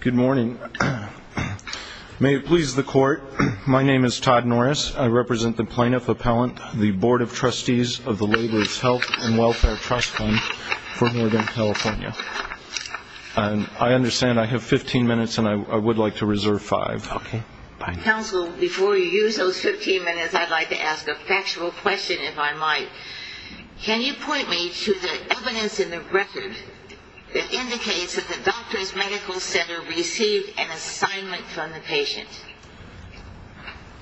Good morning. May it please the court, my name is Todd Norris. I represent the Plaintiff Appellant, the Board of Trustees of the Laborers Health and Welfare Trust Fund for Morgan, California. I understand I have 15 minutes and I would like to reserve 5. Counsel, before you use those 15 minutes, I would like to ask a factual question if I might. Can you point me to the evidence in the record that indicates that the Doctors Medical Center received an assignment from the patient?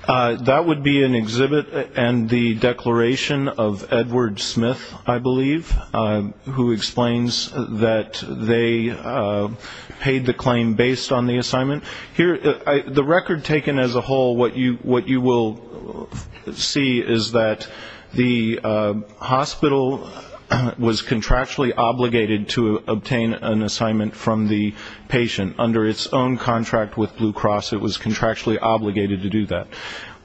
That would be an exhibit and the declaration of Edward Smith, I believe, who explains that they paid the claim based on the assignment. The record taken as a whole, what you will see is that the hospital was contractually obligated to obtain an assignment from the patient under its own contract with Blue Cross. It was contractually obligated to do that.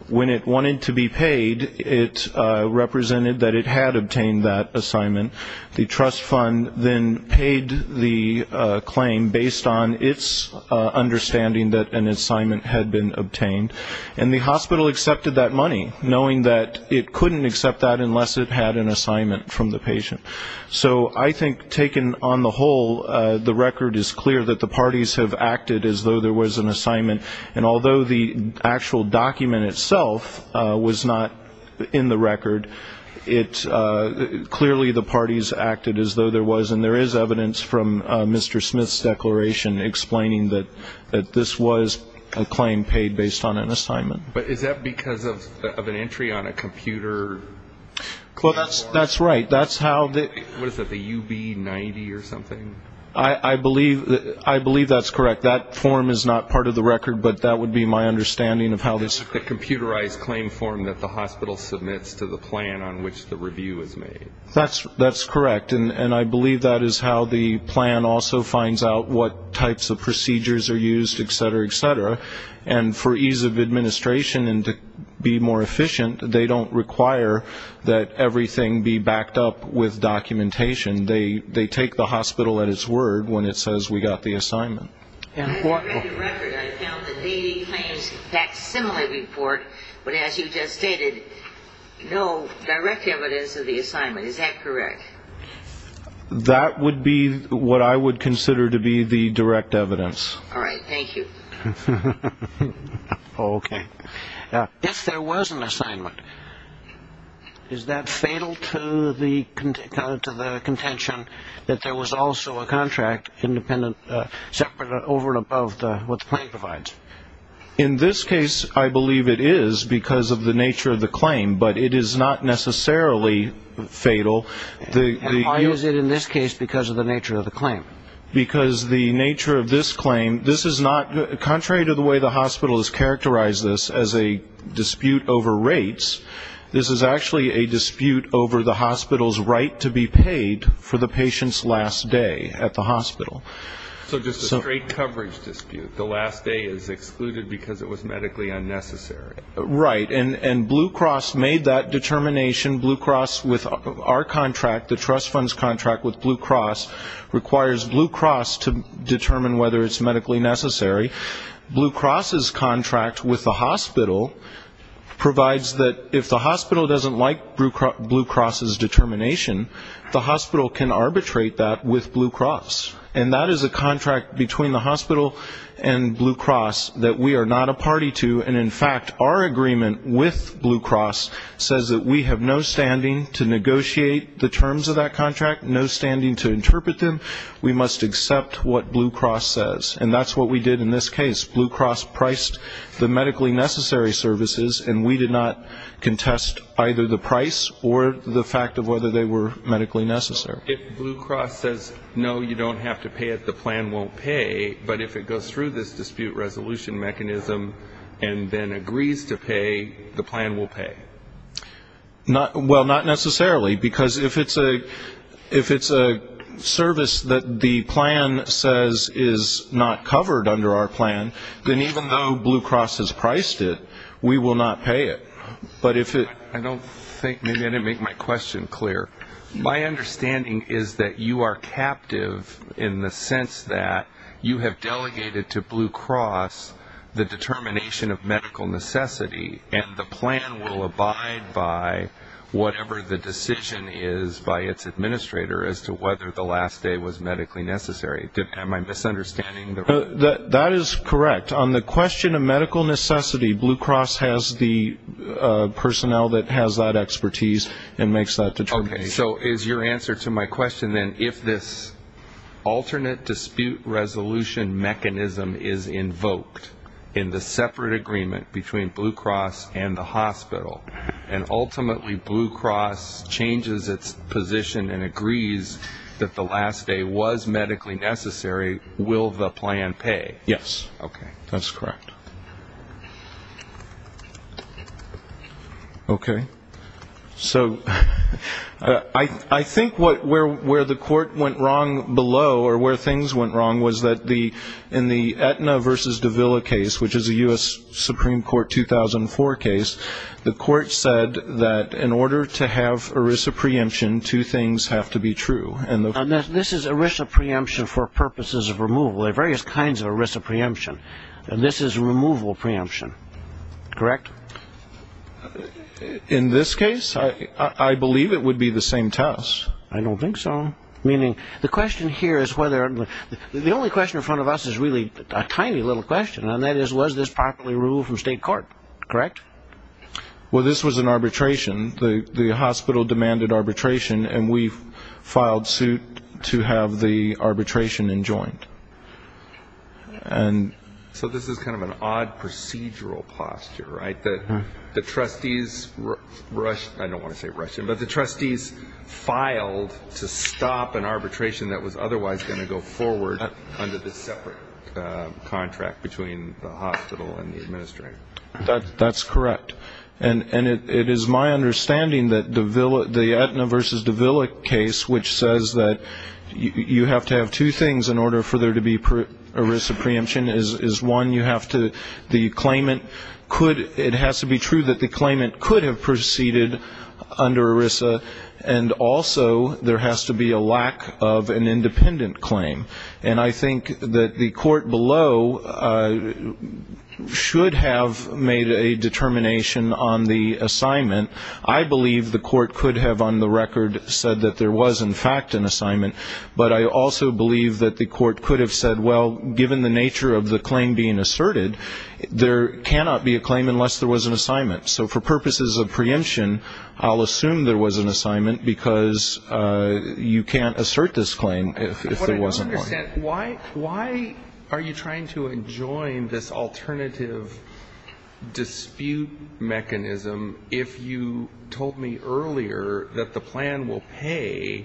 When it wanted to be paid, it represented that it had obtained that assignment. The trust fund then paid the claim based on its understanding that an assignment had been obtained. And the hospital accepted that money, knowing that it couldn't accept that unless it had an assignment from the patient. I think taken on the whole, the record is clear that the parties have acted as though there was an assignment. And although the actual document itself was not in the record, clearly the parties acted as though there was. And there is evidence from Mr. Smith's declaration explaining that this was a claim paid based on an assignment. But is that because of an entry on a computer? That's right. What is that, the UB-90 or something? I believe that's correct. That form is not part of the record, but that would be my understanding of how this occurred. The computerized claim form that the hospital submits to the plan on which the review is made. That's correct. And I believe that is how the plan also finds out what types of procedures are used, etc., etc. And for ease of administration and to be more efficient, they don't require that everything be backed up with documentation. They take the hospital at its word when it says we got the assignment. In the record, I found that they claimed that similar report, but as you just stated, no direct evidence of the assignment. Is that correct? That would be what I would consider to be the direct evidence. All right. Thank you. Okay. If there was an assignment, is that fatal to the contention that there was also a contract separate over and above what the claim provides? In this case, I believe it is because of the nature of the claim, but it is not necessarily fatal. And why is it in this case because of the nature of the claim? Because the nature of this claim, this is not contrary to the way the hospital has characterized this as a dispute over rates. This is actually a dispute over the hospital's right to be paid for the patient's last day at the hospital. So just a straight coverage dispute. The last day is excluded because it was medically unnecessary. Right. And Blue Cross made that determination. Blue Cross with our contract, the trust fund's contract with Blue Cross, requires Blue Cross to determine whether it's medically necessary. Blue Cross's contract with the hospital provides that if the hospital doesn't like Blue Cross's determination, the hospital can arbitrate that with Blue Cross. And that is a contract between the hospital and Blue Cross that we are not a party to. And, in fact, our agreement with Blue Cross says that we have no standing to negotiate the terms of that contract, no standing to interpret them. We must accept what Blue Cross says. And that's what we did in this case. Blue Cross priced the medically necessary services, and we did not contest either the price or the fact of whether they were medically necessary. If Blue Cross says, no, you don't have to pay it, the plan won't pay. But if it goes through this dispute resolution mechanism and then agrees to pay, the plan will pay. Well, not necessarily. Because if it's a service that the plan says is not covered under our plan, then even though Blue Cross has priced it, we will not pay it. I don't think maybe I didn't make my question clear. My understanding is that you are captive in the sense that you have delegated to Blue Cross the determination of medical necessity, and the plan will abide by whatever the decision is by its administrator as to whether the last day was medically necessary. Am I misunderstanding? That is correct. On the question of medical necessity, Blue Cross has the personnel that has that expertise and makes that determination. Okay. So is your answer to my question then, if this alternate dispute resolution mechanism is invoked in the separate agreement between Blue Cross and the hospital, and ultimately Blue Cross changes its position and agrees that the last day was medically necessary, will the plan pay? Yes. Okay. That's correct. Okay. So I think where the court went wrong below or where things went wrong was that in the Aetna v. Davila case, which is a U.S. Supreme Court 2004 case, the court said that in order to have ERISA preemption, two things have to be true. This is ERISA preemption for purposes of removal. There are various kinds of ERISA preemption. This is removal preemption, correct? In this case, I believe it would be the same test. I don't think so. Meaning the question here is whether the only question in front of us is really a tiny little question, and that is was this properly removed from state court, correct? Well, this was an arbitration. The hospital demanded arbitration, and we filed suit to have the arbitration enjoined. So this is kind of an odd procedural posture, right, that the trustees rushed, I don't want to say rushed, but the trustees filed to stop an arbitration that was otherwise going to go forward under this separate contract between the hospital and the administrator. That's correct. And it is my understanding that the Aetna v. Davila case, which says that you have to have two things in order for there to be ERISA preemption, is one, you have to, the claimant could, it has to be true that the claimant could have proceeded under ERISA, and also there has to be a lack of an independent claim. And I think that the court below should have made a determination on the assignment. I believe the court could have on the record said that there was in fact an assignment, but I also believe that the court could have said, well, given the nature of the claim being asserted, there cannot be a claim unless there was an assignment. So for purposes of preemption, I'll assume there was an assignment, because you can't assert this claim if there wasn't one. But I don't understand. Why are you trying to enjoin this alternative dispute mechanism if you told me earlier that the plan will pay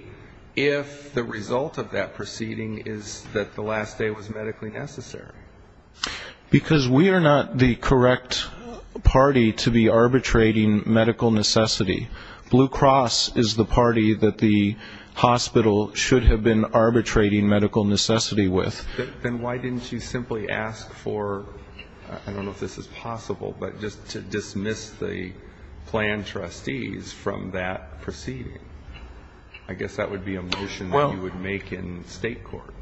if the result of that proceeding is that the last day was medically necessary? Because we are not the correct party to be arbitrating medical necessity. Blue Cross is the party that the hospital should have been arbitrating medical necessity with. Then why didn't you simply ask for, I don't know if this is possible, but just to dismiss the plan trustees from that proceeding? I guess that would be a motion that you would make in state court.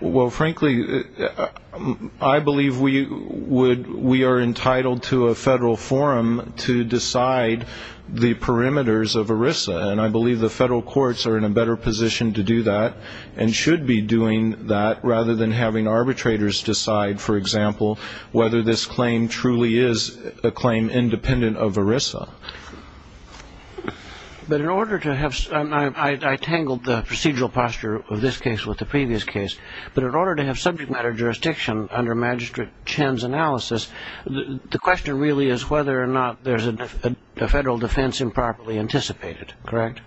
Well, frankly, I believe we are entitled to a federal forum to decide the perimeters of ERISA, and I believe the federal courts are in a better position to do that and should be doing that rather than having arbitrators decide, for example, whether this claim truly is a claim independent of ERISA. But in order to have, and I tangled the procedural posture of this case with the previous case, but in order to have subject matter jurisdiction under Magistrate Chen's analysis, the question really is whether or not there's a federal defense improperly anticipated. Correct?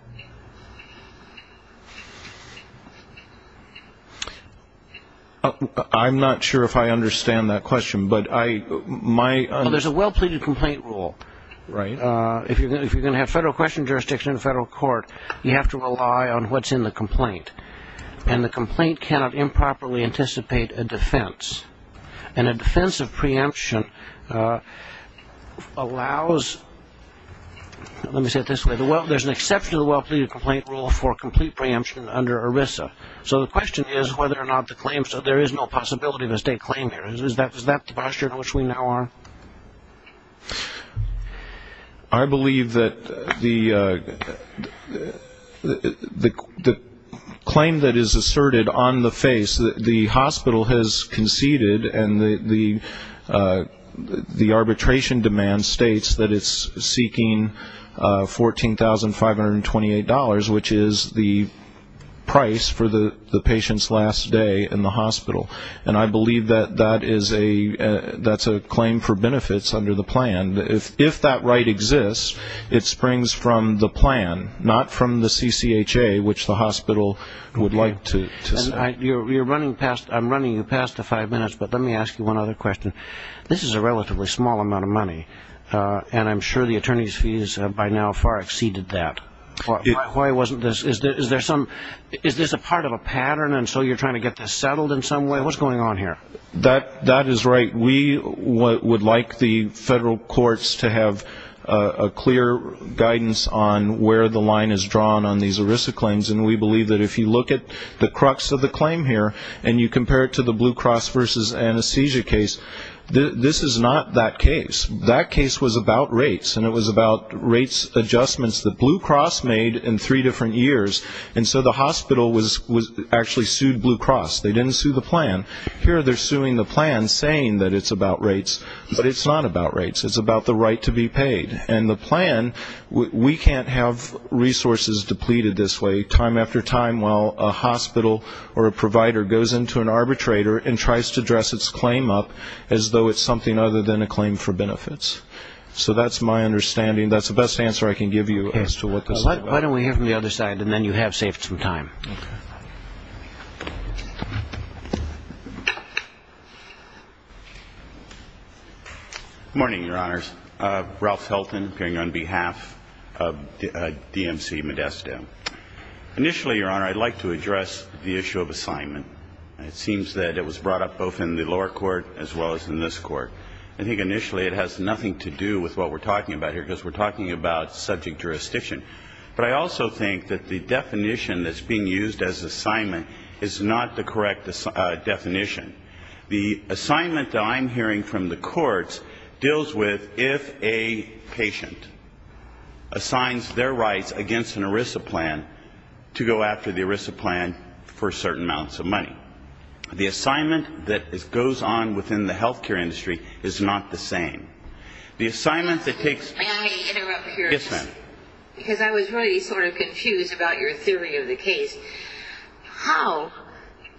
I'm not sure if I understand that question, but I might. Well, there's a well-pleaded complaint rule. If you're going to have federal question jurisdiction in a federal court, you have to rely on what's in the complaint, and the complaint cannot improperly anticipate a defense. And a defense of preemption allows, let me say it this way, there's an exception to the well-pleaded complaint rule for complete preemption under ERISA. So the question is whether or not the claim, so there is no possibility of a state claim here. Is that the posture in which we now are? I believe that the claim that is asserted on the face, the hospital has conceded, and the arbitration demand states that it's seeking $14,528, which is the price for the patient's last day in the hospital. And I believe that that's a claim for benefits under the plan. If that right exists, it springs from the plan, not from the CCHA, which the hospital would like to say. I'm running past the five minutes, but let me ask you one other question. This is a relatively small amount of money, and I'm sure the attorney's fees by now far exceeded that. Why wasn't this? Is this a part of a pattern, and so you're trying to get this settled in some way? What's going on here? That is right. We would like the federal courts to have a clear guidance on where the line is drawn on these ERISA claims, and we believe that if you look at the crux of the claim here, and you compare it to the Blue Cross versus anesthesia case, this is not that case. That case was about rates, and it was about rates adjustments. The Blue Cross made in three different years, and so the hospital actually sued Blue Cross. They didn't sue the plan. Here they're suing the plan saying that it's about rates, but it's not about rates. It's about the right to be paid. And the plan, we can't have resources depleted this way time after time while a hospital or a provider goes into an arbitrator and tries to dress its claim up as though it's something other than a claim for benefits. So that's my understanding. That's the best answer I can give you as to what this is about. Why don't we hear from the other side, and then you have saved some time. Okay. Good morning, Your Honors. Ralph Helton, appearing on behalf of DMC Modesto. Initially, Your Honor, I'd like to address the issue of assignment. It seems that it was brought up both in the lower court as well as in this court. I think initially it has nothing to do with what we're talking about here, because we're talking about subject jurisdiction. But I also think that the definition that's being used as assignment is not the correct definition. The assignment that I'm hearing from the courts deals with if a patient assigns their rights against an ERISA plan to go after the ERISA plan for certain amounts of money. The assignment that goes on within the health care industry is not the same. The assignment that takes place – May I interrupt here? Yes, ma'am. Because I was really sort of confused about your theory of the case. How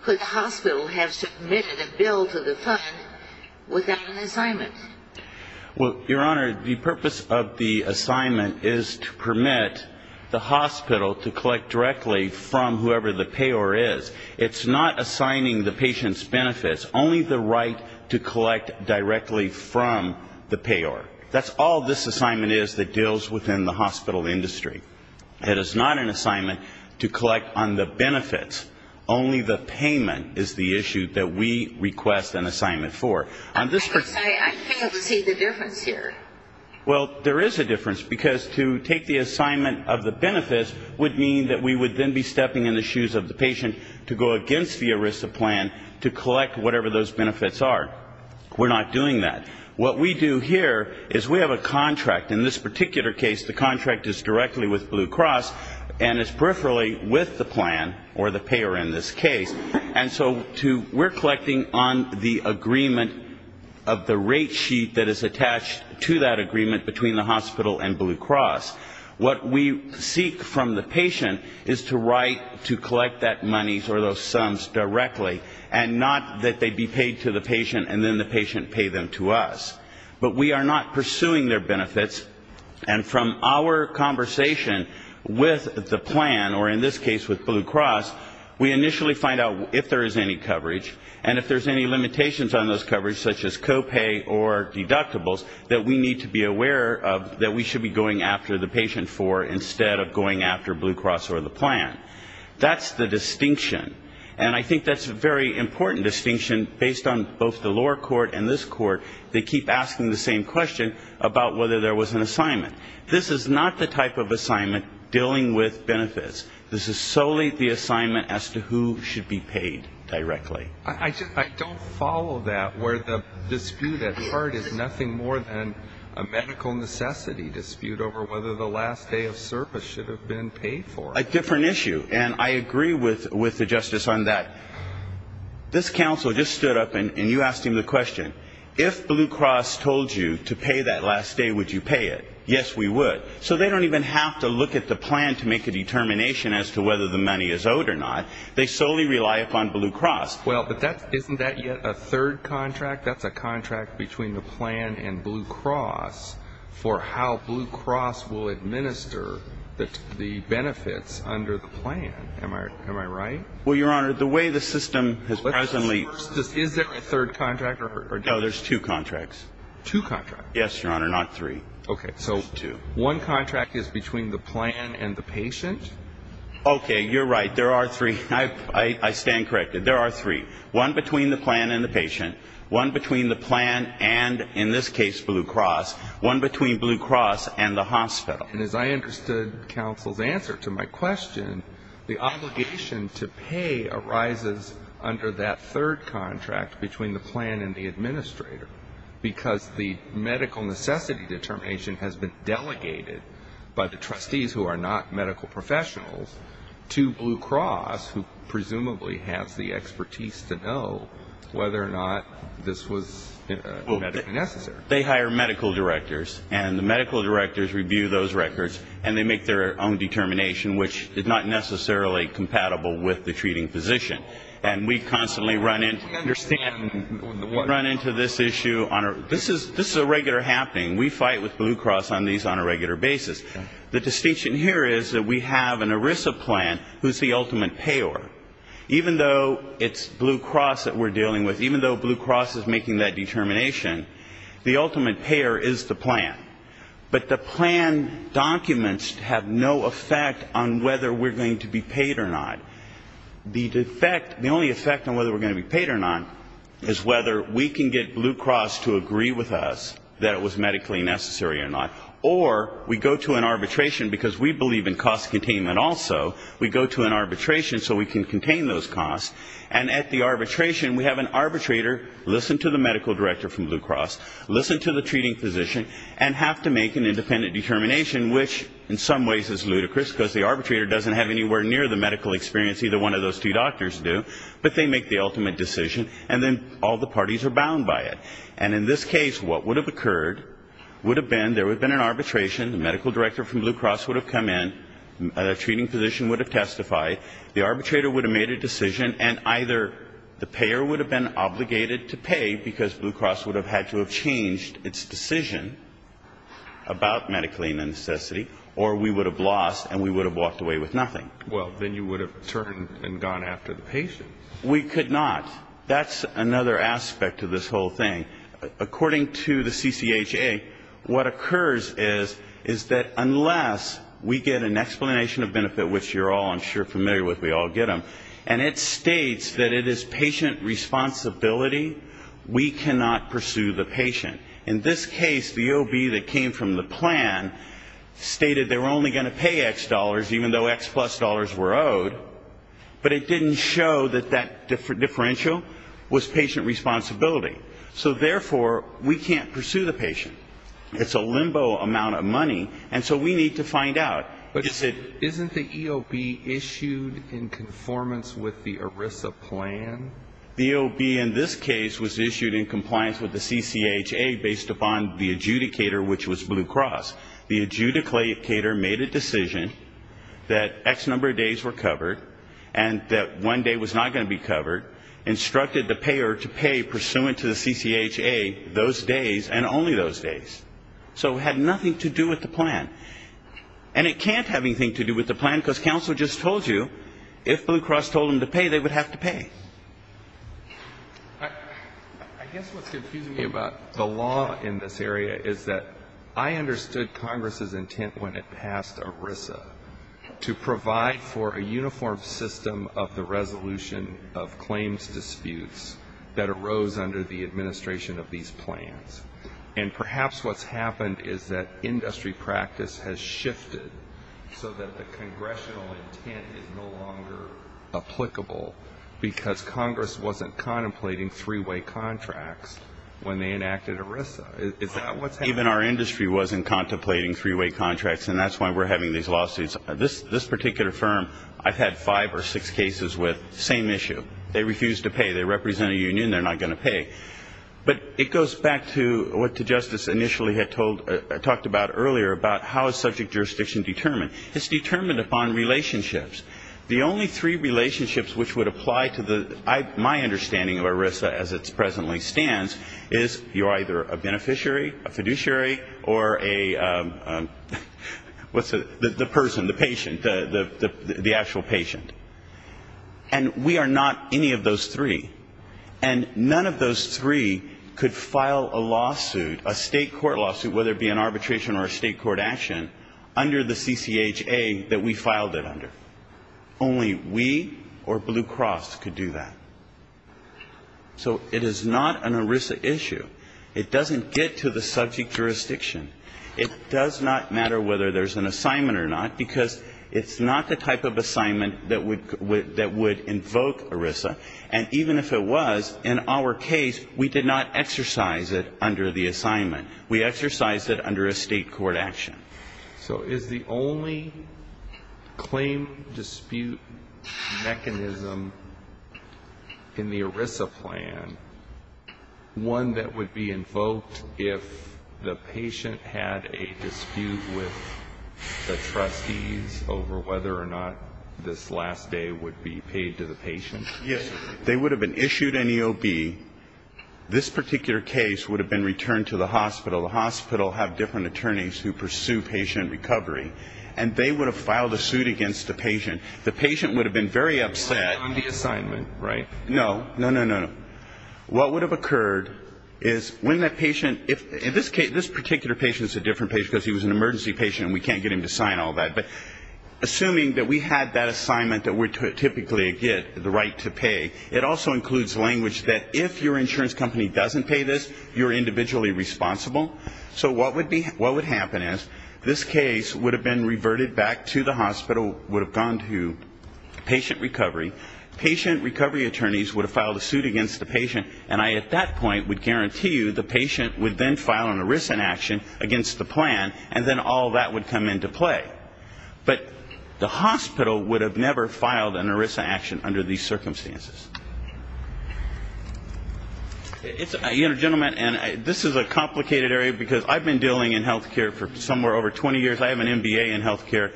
could the hospital have submitted a bill to the fund without an assignment? Well, Your Honor, the purpose of the assignment is to permit the hospital to collect directly from whoever the payer is. It's not assigning the patient's benefits, only the right to collect directly from the payer. That's all this assignment is that deals within the hospital industry. It is not an assignment to collect on the benefits. Only the payment is the issue that we request an assignment for. I fail to see the difference here. Well, there is a difference, because to take the assignment of the benefits would mean that we would then be to go against the ERISA plan to collect whatever those benefits are. We're not doing that. What we do here is we have a contract. In this particular case, the contract is directly with Blue Cross, and it's peripherally with the plan or the payer in this case. And so we're collecting on the agreement of the rate sheet that is attached to that agreement between the hospital and Blue Cross. What we seek from the patient is to write to collect that money or those sums directly, and not that they be paid to the patient and then the patient pay them to us. But we are not pursuing their benefits, and from our conversation with the plan, or in this case with Blue Cross, we initially find out if there is any coverage, and if there's any limitations on those coverage, such as copay or deductibles, that we need to be aware of that we should be going after the patient for instead of going after Blue Cross or the plan. That's the distinction. And I think that's a very important distinction based on both the lower court and this court. They keep asking the same question about whether there was an assignment. This is not the type of assignment dealing with benefits. This is solely the assignment as to who should be paid directly. I don't follow that where the dispute at heart is nothing more than a medical necessity dispute over whether the last day of service should have been paid for. A different issue, and I agree with the Justice on that. This counsel just stood up, and you asked him the question, if Blue Cross told you to pay that last day, would you pay it? Yes, we would. So they don't even have to look at the plan to make a determination as to whether the money is owed or not. They solely rely upon Blue Cross. Well, but isn't that yet a third contract? That's a contract between the plan and Blue Cross for how Blue Cross will administer the benefits under the plan. Am I right? Well, Your Honor, the way the system has presently ---- Is there a third contract? No, there's two contracts. Two contracts? Yes, Your Honor, not three. Okay, so one contract is between the plan and the patient? Okay, you're right. There are three. I stand corrected. There are three. One between the plan and the patient. One between the plan and, in this case, Blue Cross. One between Blue Cross and the hospital. And as I understood counsel's answer to my question, the obligation to pay arises under that third contract between the plan and the administrator, because the medical necessity determination has been delegated by the trustees who are not medical professionals to Blue Cross, who presumably has the expertise to know whether or not this was medically necessary. They hire medical directors, and the medical directors review those records, and they make their own determination, which is not necessarily compatible with the treating physician. And we constantly run into this issue on our ---- This is a regular happening. We fight with Blue Cross on these on a regular basis. The distinction here is that we have an ERISA plan who's the ultimate payer. Even though it's Blue Cross that we're dealing with, even though Blue Cross is making that determination, the ultimate payer is the plan. But the plan documents have no effect on whether we're going to be paid or not. The defect, the only effect on whether we're going to be paid or not, is whether we can get Blue Cross to agree with us that it was medically necessary or not. Or we go to an arbitration, because we believe in cost containment also. We go to an arbitration so we can contain those costs. And at the arbitration, we have an arbitrator listen to the medical director from Blue Cross, listen to the treating physician, and have to make an independent determination, which in some ways is ludicrous, because the arbitrator doesn't have anywhere near the medical experience either one of those two doctors do, but they make the ultimate decision, and then all the parties are bound by it. And in this case, what would have occurred would have been there would have been an arbitration, the medical director from Blue Cross would have come in, the treating physician would have testified, the arbitrator would have made a decision, and either the payer would have been obligated to pay, because Blue Cross would have had to have changed its decision about medically necessity, or we would have lost and we would have walked away with nothing. Well, then you would have turned and gone after the patient. We could not. That's another aspect of this whole thing. According to the CCHA, what occurs is that unless we get an explanation of benefit, which you're all I'm sure familiar with, we all get them, and it states that it is patient responsibility, we cannot pursue the patient. In this case, the OB that came from the plan stated they were only going to pay X dollars, even though X plus dollars were owed, but it didn't show that that differential was patient responsibility. So, therefore, we can't pursue the patient. It's a limbo amount of money, and so we need to find out. But isn't the EOB issued in conformance with the ERISA plan? The EOB in this case was issued in compliance with the CCHA based upon the adjudicator, which was Blue Cross. The adjudicator made a decision that X number of days were covered and that one day was not going to be covered, instructed the payer to pay pursuant to the CCHA those days and only those days. So it had nothing to do with the plan. And it can't have anything to do with the plan, because counsel just told you, if Blue Cross told them to pay, they would have to pay. I guess what's confusing me about the law in this area is that I understood Congress's intent when it passed ERISA to provide for a uniform system of the resolution of claims disputes that arose under the administration of these plans. And perhaps what's happened is that industry practice has shifted so that the congressional intent is no longer applicable, because Congress wasn't contemplating three-way contracts when they enacted ERISA. Is that what's happened? Even our industry wasn't contemplating three-way contracts, and that's why we're having these lawsuits. This particular firm, I've had five or six cases with the same issue. They refuse to pay. They represent a union. They're not going to pay. But it goes back to what Justice initially had talked about earlier about how is subject jurisdiction determined. It's determined upon relationships. The only three relationships which would apply to my understanding of ERISA as it presently stands is you're either a beneficiary, a fiduciary, or a the person, the patient, the actual patient. And we are not any of those three. And none of those three could file a lawsuit, a state court lawsuit, whether it be an arbitration or a state court action, under the CCHA that we filed it under. Only we or Blue Cross could do that. So it is not an ERISA issue. It doesn't get to the subject jurisdiction. It does not matter whether there's an assignment or not, because it's not the type of assignment that would invoke ERISA. And even if it was, in our case, we did not exercise it under the assignment. We exercised it under a state court action. So is the only claim dispute mechanism in the ERISA plan one that would be invoked if the patient had a dispute with the trustees over whether or not this last day would be paid to the patient? Yes. If they would have been issued an EOB, this particular case would have been returned to the hospital. The hospital have different attorneys who pursue patient recovery. And they would have filed a suit against the patient. The patient would have been very upset. On the assignment, right? No, no, no, no, no. What would have occurred is when that patient, if this particular patient is a different patient because he was an emergency patient and we can't get him to sign all that, but assuming that we had that assignment that we're typically get the right to pay, it also includes language that if your insurance company doesn't pay this, you're individually responsible. So what would happen is this case would have been reverted back to the hospital, would have gone to patient recovery. Patient recovery attorneys would have filed a suit against the patient, and I at that point would guarantee you the patient would then file an ERISA action against the plan, and then all that would come into play. But the hospital would have never filed an ERISA action under these circumstances. You know, gentlemen, this is a complicated area because I've been dealing in health care for somewhere over 20 years. I have an MBA in health care.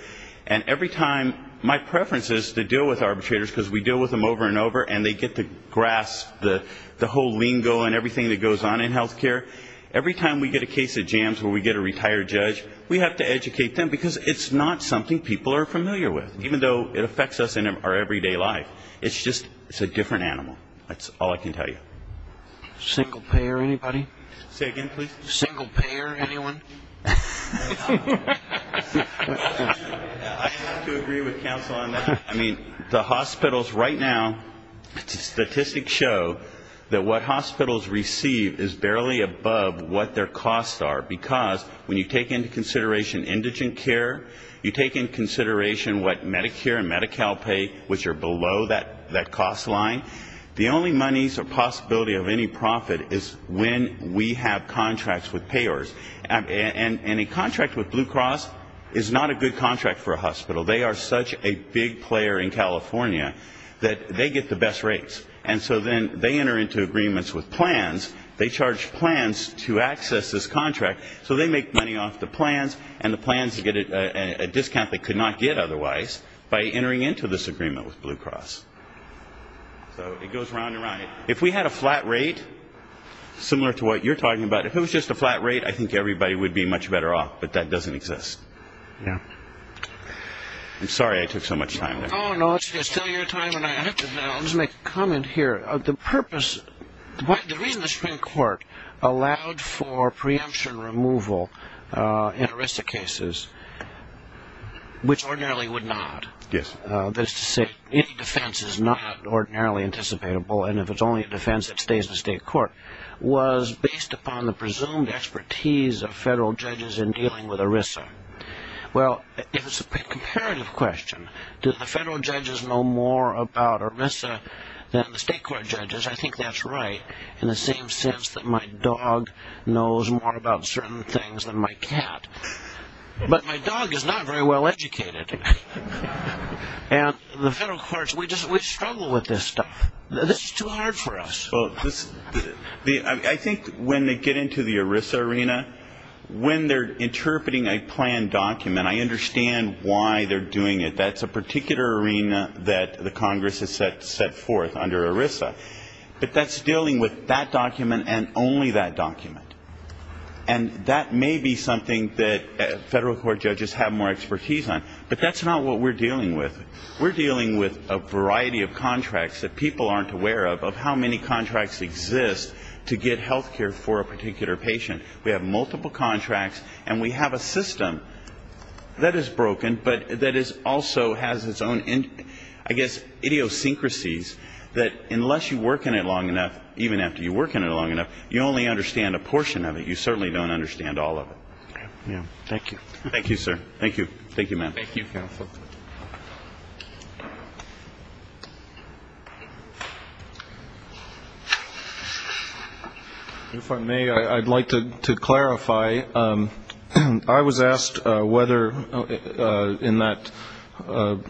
And every time my preference is to deal with arbitrators because we deal with them over and over and they get to grasp the whole lingo and everything that goes on in health care. Every time we get a case of jams where we get a retired judge, we have to educate them because it's not something people are familiar with, even though it affects us in our everyday life. It's just a different animal. That's all I can tell you. Single payer, anybody? Say again, please. Single payer, anyone? I have to agree with counsel on that. I mean, the hospitals right now, statistics show that what hospitals receive is barely above what their costs are. Because when you take into consideration indigent care, you take into consideration what Medicare and Medi-Cal pay, which are below that cost line, the only monies or possibility of any profit is when we have contracts with payers. And a contract with Blue Cross is not a good contract for a hospital. They are such a big player in California that they get the best rates. And so then they enter into agreements with plans. They charge plans to access this contract. So they make money off the plans, and the plans get a discount they could not get otherwise by entering into this agreement with Blue Cross. So it goes round and round. If we had a flat rate, similar to what you're talking about, if it was just a flat rate, I think everybody would be much better off, but that doesn't exist. I'm sorry I took so much time there. Oh, no, it's still your time, and I have to make a comment here. The reason the Supreme Court allowed for preemption removal in ERISA cases, which ordinarily would not, that is to say any defense is not ordinarily anticipatable, and if it's only a defense, it stays in the state court, was based upon the presumed expertise of federal judges in dealing with ERISA. Well, if it's a comparative question, do the federal judges know more about ERISA than the state court judges, I think that's right in the same sense that my dog knows more about certain things than my cat. But my dog is not very well educated. And the federal courts, we struggle with this stuff. This is too hard for us. I think when they get into the ERISA arena, when they're interpreting a planned document, I understand why they're doing it. That's a particular arena that the Congress has set forth under ERISA. But that's dealing with that document and only that document. And that may be something that federal court judges have more expertise on, but that's not what we're dealing with. We're dealing with a variety of contracts that people aren't aware of, how many contracts exist to get health care for a particular patient. We have multiple contracts, and we have a system that is broken, but that is also has its own, I guess, idiosyncrasies, that unless you work in it long enough, even after you work in it long enough, you only understand a portion of it. You certainly don't understand all of it. Thank you. Thank you, sir. Thank you. Thank you, ma'am. Thank you, counsel. If I may, I'd like to clarify. I was asked whether in that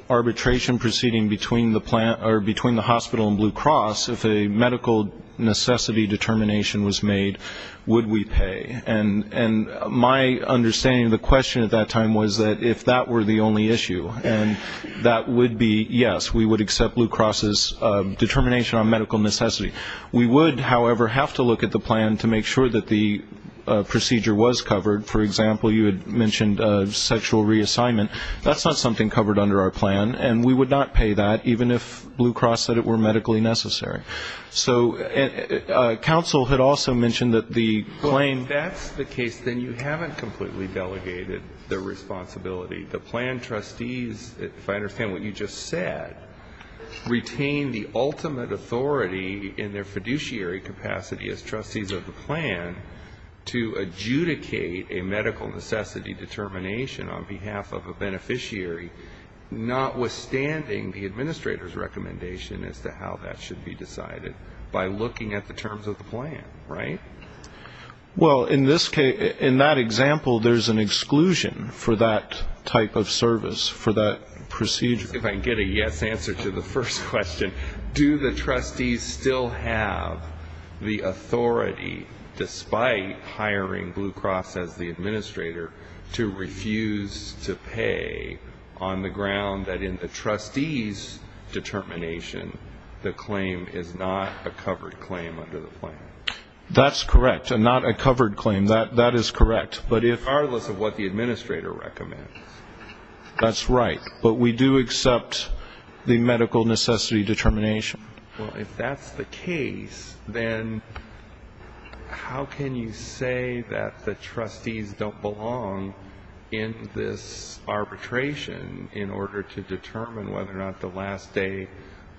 arbitration proceeding between the hospital and Blue Cross, if a medical necessity determination was made, would we pay? And my understanding of the question at that time was that if that were the only issue, and that would be yes, we would accept Blue Cross's determination on medical necessity. We would, however, have to look at the plan to make sure that the procedure was covered. For example, you had mentioned sexual reassignment. That's not something covered under our plan, and we would not pay that even if Blue Cross said it were medically necessary. So counsel had also mentioned that the plan. Well, if that's the case, then you haven't completely delegated the responsibility. The plan trustees, if I understand what you just said, retain the ultimate authority in their fiduciary capacity as trustees of the plan to adjudicate a medical necessity determination on behalf of a beneficiary, notwithstanding the administrator's recommendation as to how that should be decided, by looking at the terms of the plan, right? Well, in that example, there's an exclusion for that type of service, for that procedure. If I can get a yes answer to the first question, do the trustees still have the authority, despite hiring Blue Cross as the administrator, to refuse to pay on the ground that in the trustees' determination, the claim is not a covered claim under the plan? That's correct, and not a covered claim. That is correct. Regardless of what the administrator recommends. That's right. But we do accept the medical necessity determination. Well, if that's the case, then how can you say that the trustees don't belong in this arbitration in order to determine whether or not the last day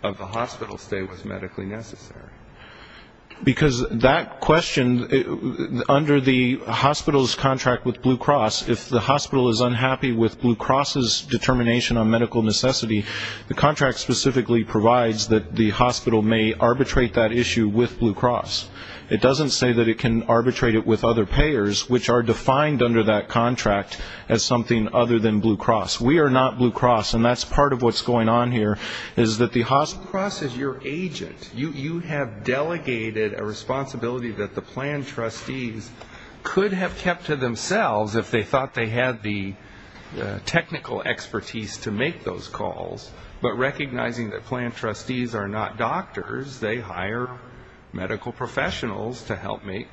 of the hospital stay was medically necessary? Because that question, under the hospital's contract with Blue Cross, if the hospital is unhappy with Blue Cross's determination on medical necessity, the contract specifically provides that the hospital may arbitrate that issue with Blue Cross. It doesn't say that it can arbitrate it with other payers, which are defined under that contract as something other than Blue Cross. We are not Blue Cross, and that's part of what's going on here, is that the hospital Blue Cross is your agent. You have delegated a responsibility that the plan trustees could have kept to themselves if they thought they had the technical expertise to make those calls. But recognizing that plan trustees are not doctors, they hire medical professionals to help make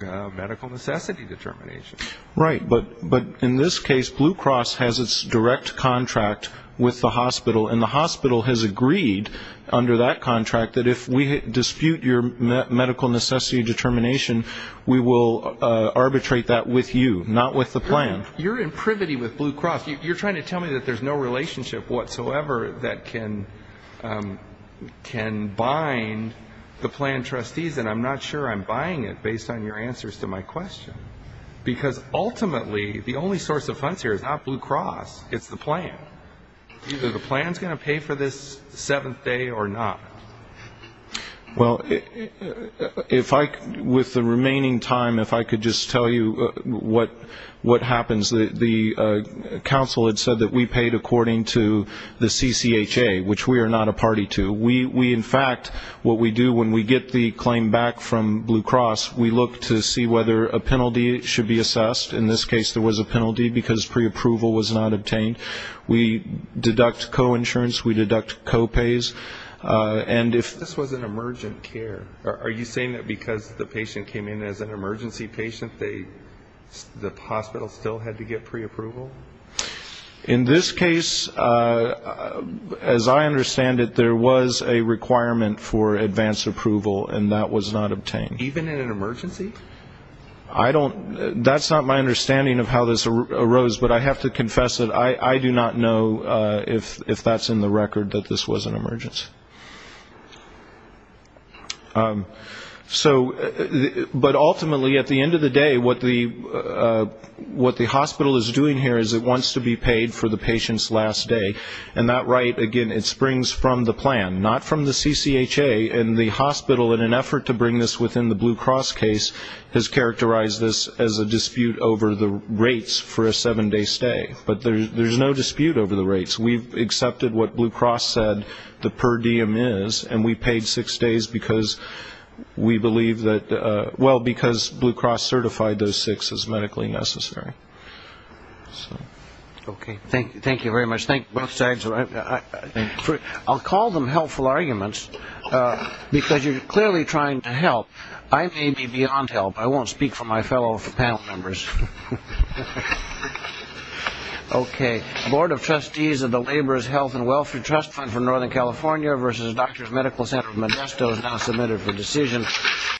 medical necessity determinations. Right, but in this case, Blue Cross has its direct contract with the hospital, and the hospital has agreed under that contract that if we dispute your medical necessity determination, we will arbitrate that with you, not with the plan. You're in privity with Blue Cross. You're trying to tell me that there's no relationship whatsoever that can bind the plan trustees, and I'm not sure I'm buying it based on your answers to my question. Because ultimately, the only source of funds here is not Blue Cross, it's the plan. Either the plan is going to pay for this seventh day or not. Well, with the remaining time, if I could just tell you what happens. The council had said that we paid according to the CCHA, which we are not a party to. We, in fact, what we do when we get the claim back from Blue Cross, we look to see whether a penalty should be assessed. In this case, there was a penalty because preapproval was not obtained. We deduct co-insurance, we deduct co-pays. This was an emergent care. Are you saying that because the patient came in as an emergency patient, the hospital still had to get preapproval? In this case, as I understand it, there was a requirement for advance approval, and that was not obtained. Even in an emergency? That's not my understanding of how this arose, but I have to confess that I do not know if that's in the record, that this was an emergency. But ultimately, at the end of the day, what the hospital is doing here is it wants to be paid for the patient's last day. And that right, again, it springs from the plan, not from the CCHA. And the hospital, in an effort to bring this within the Blue Cross case, has characterized this as a dispute over the rates for a seven-day stay. But there's no dispute over the rates. We've accepted what Blue Cross said the per diem is, and we paid six days because we believe that – well, because Blue Cross certified those six as medically necessary. Okay. Thank you very much. Thank you both sides. I'll call them helpful arguments because you're clearly trying to help. I may be beyond help. I won't speak for my fellow panel members. Okay. Board of Trustees of the Laborers' Health and Welfare Trust Fund for Northern California versus Doctors' Medical Center of Modesto is now submitted for decision.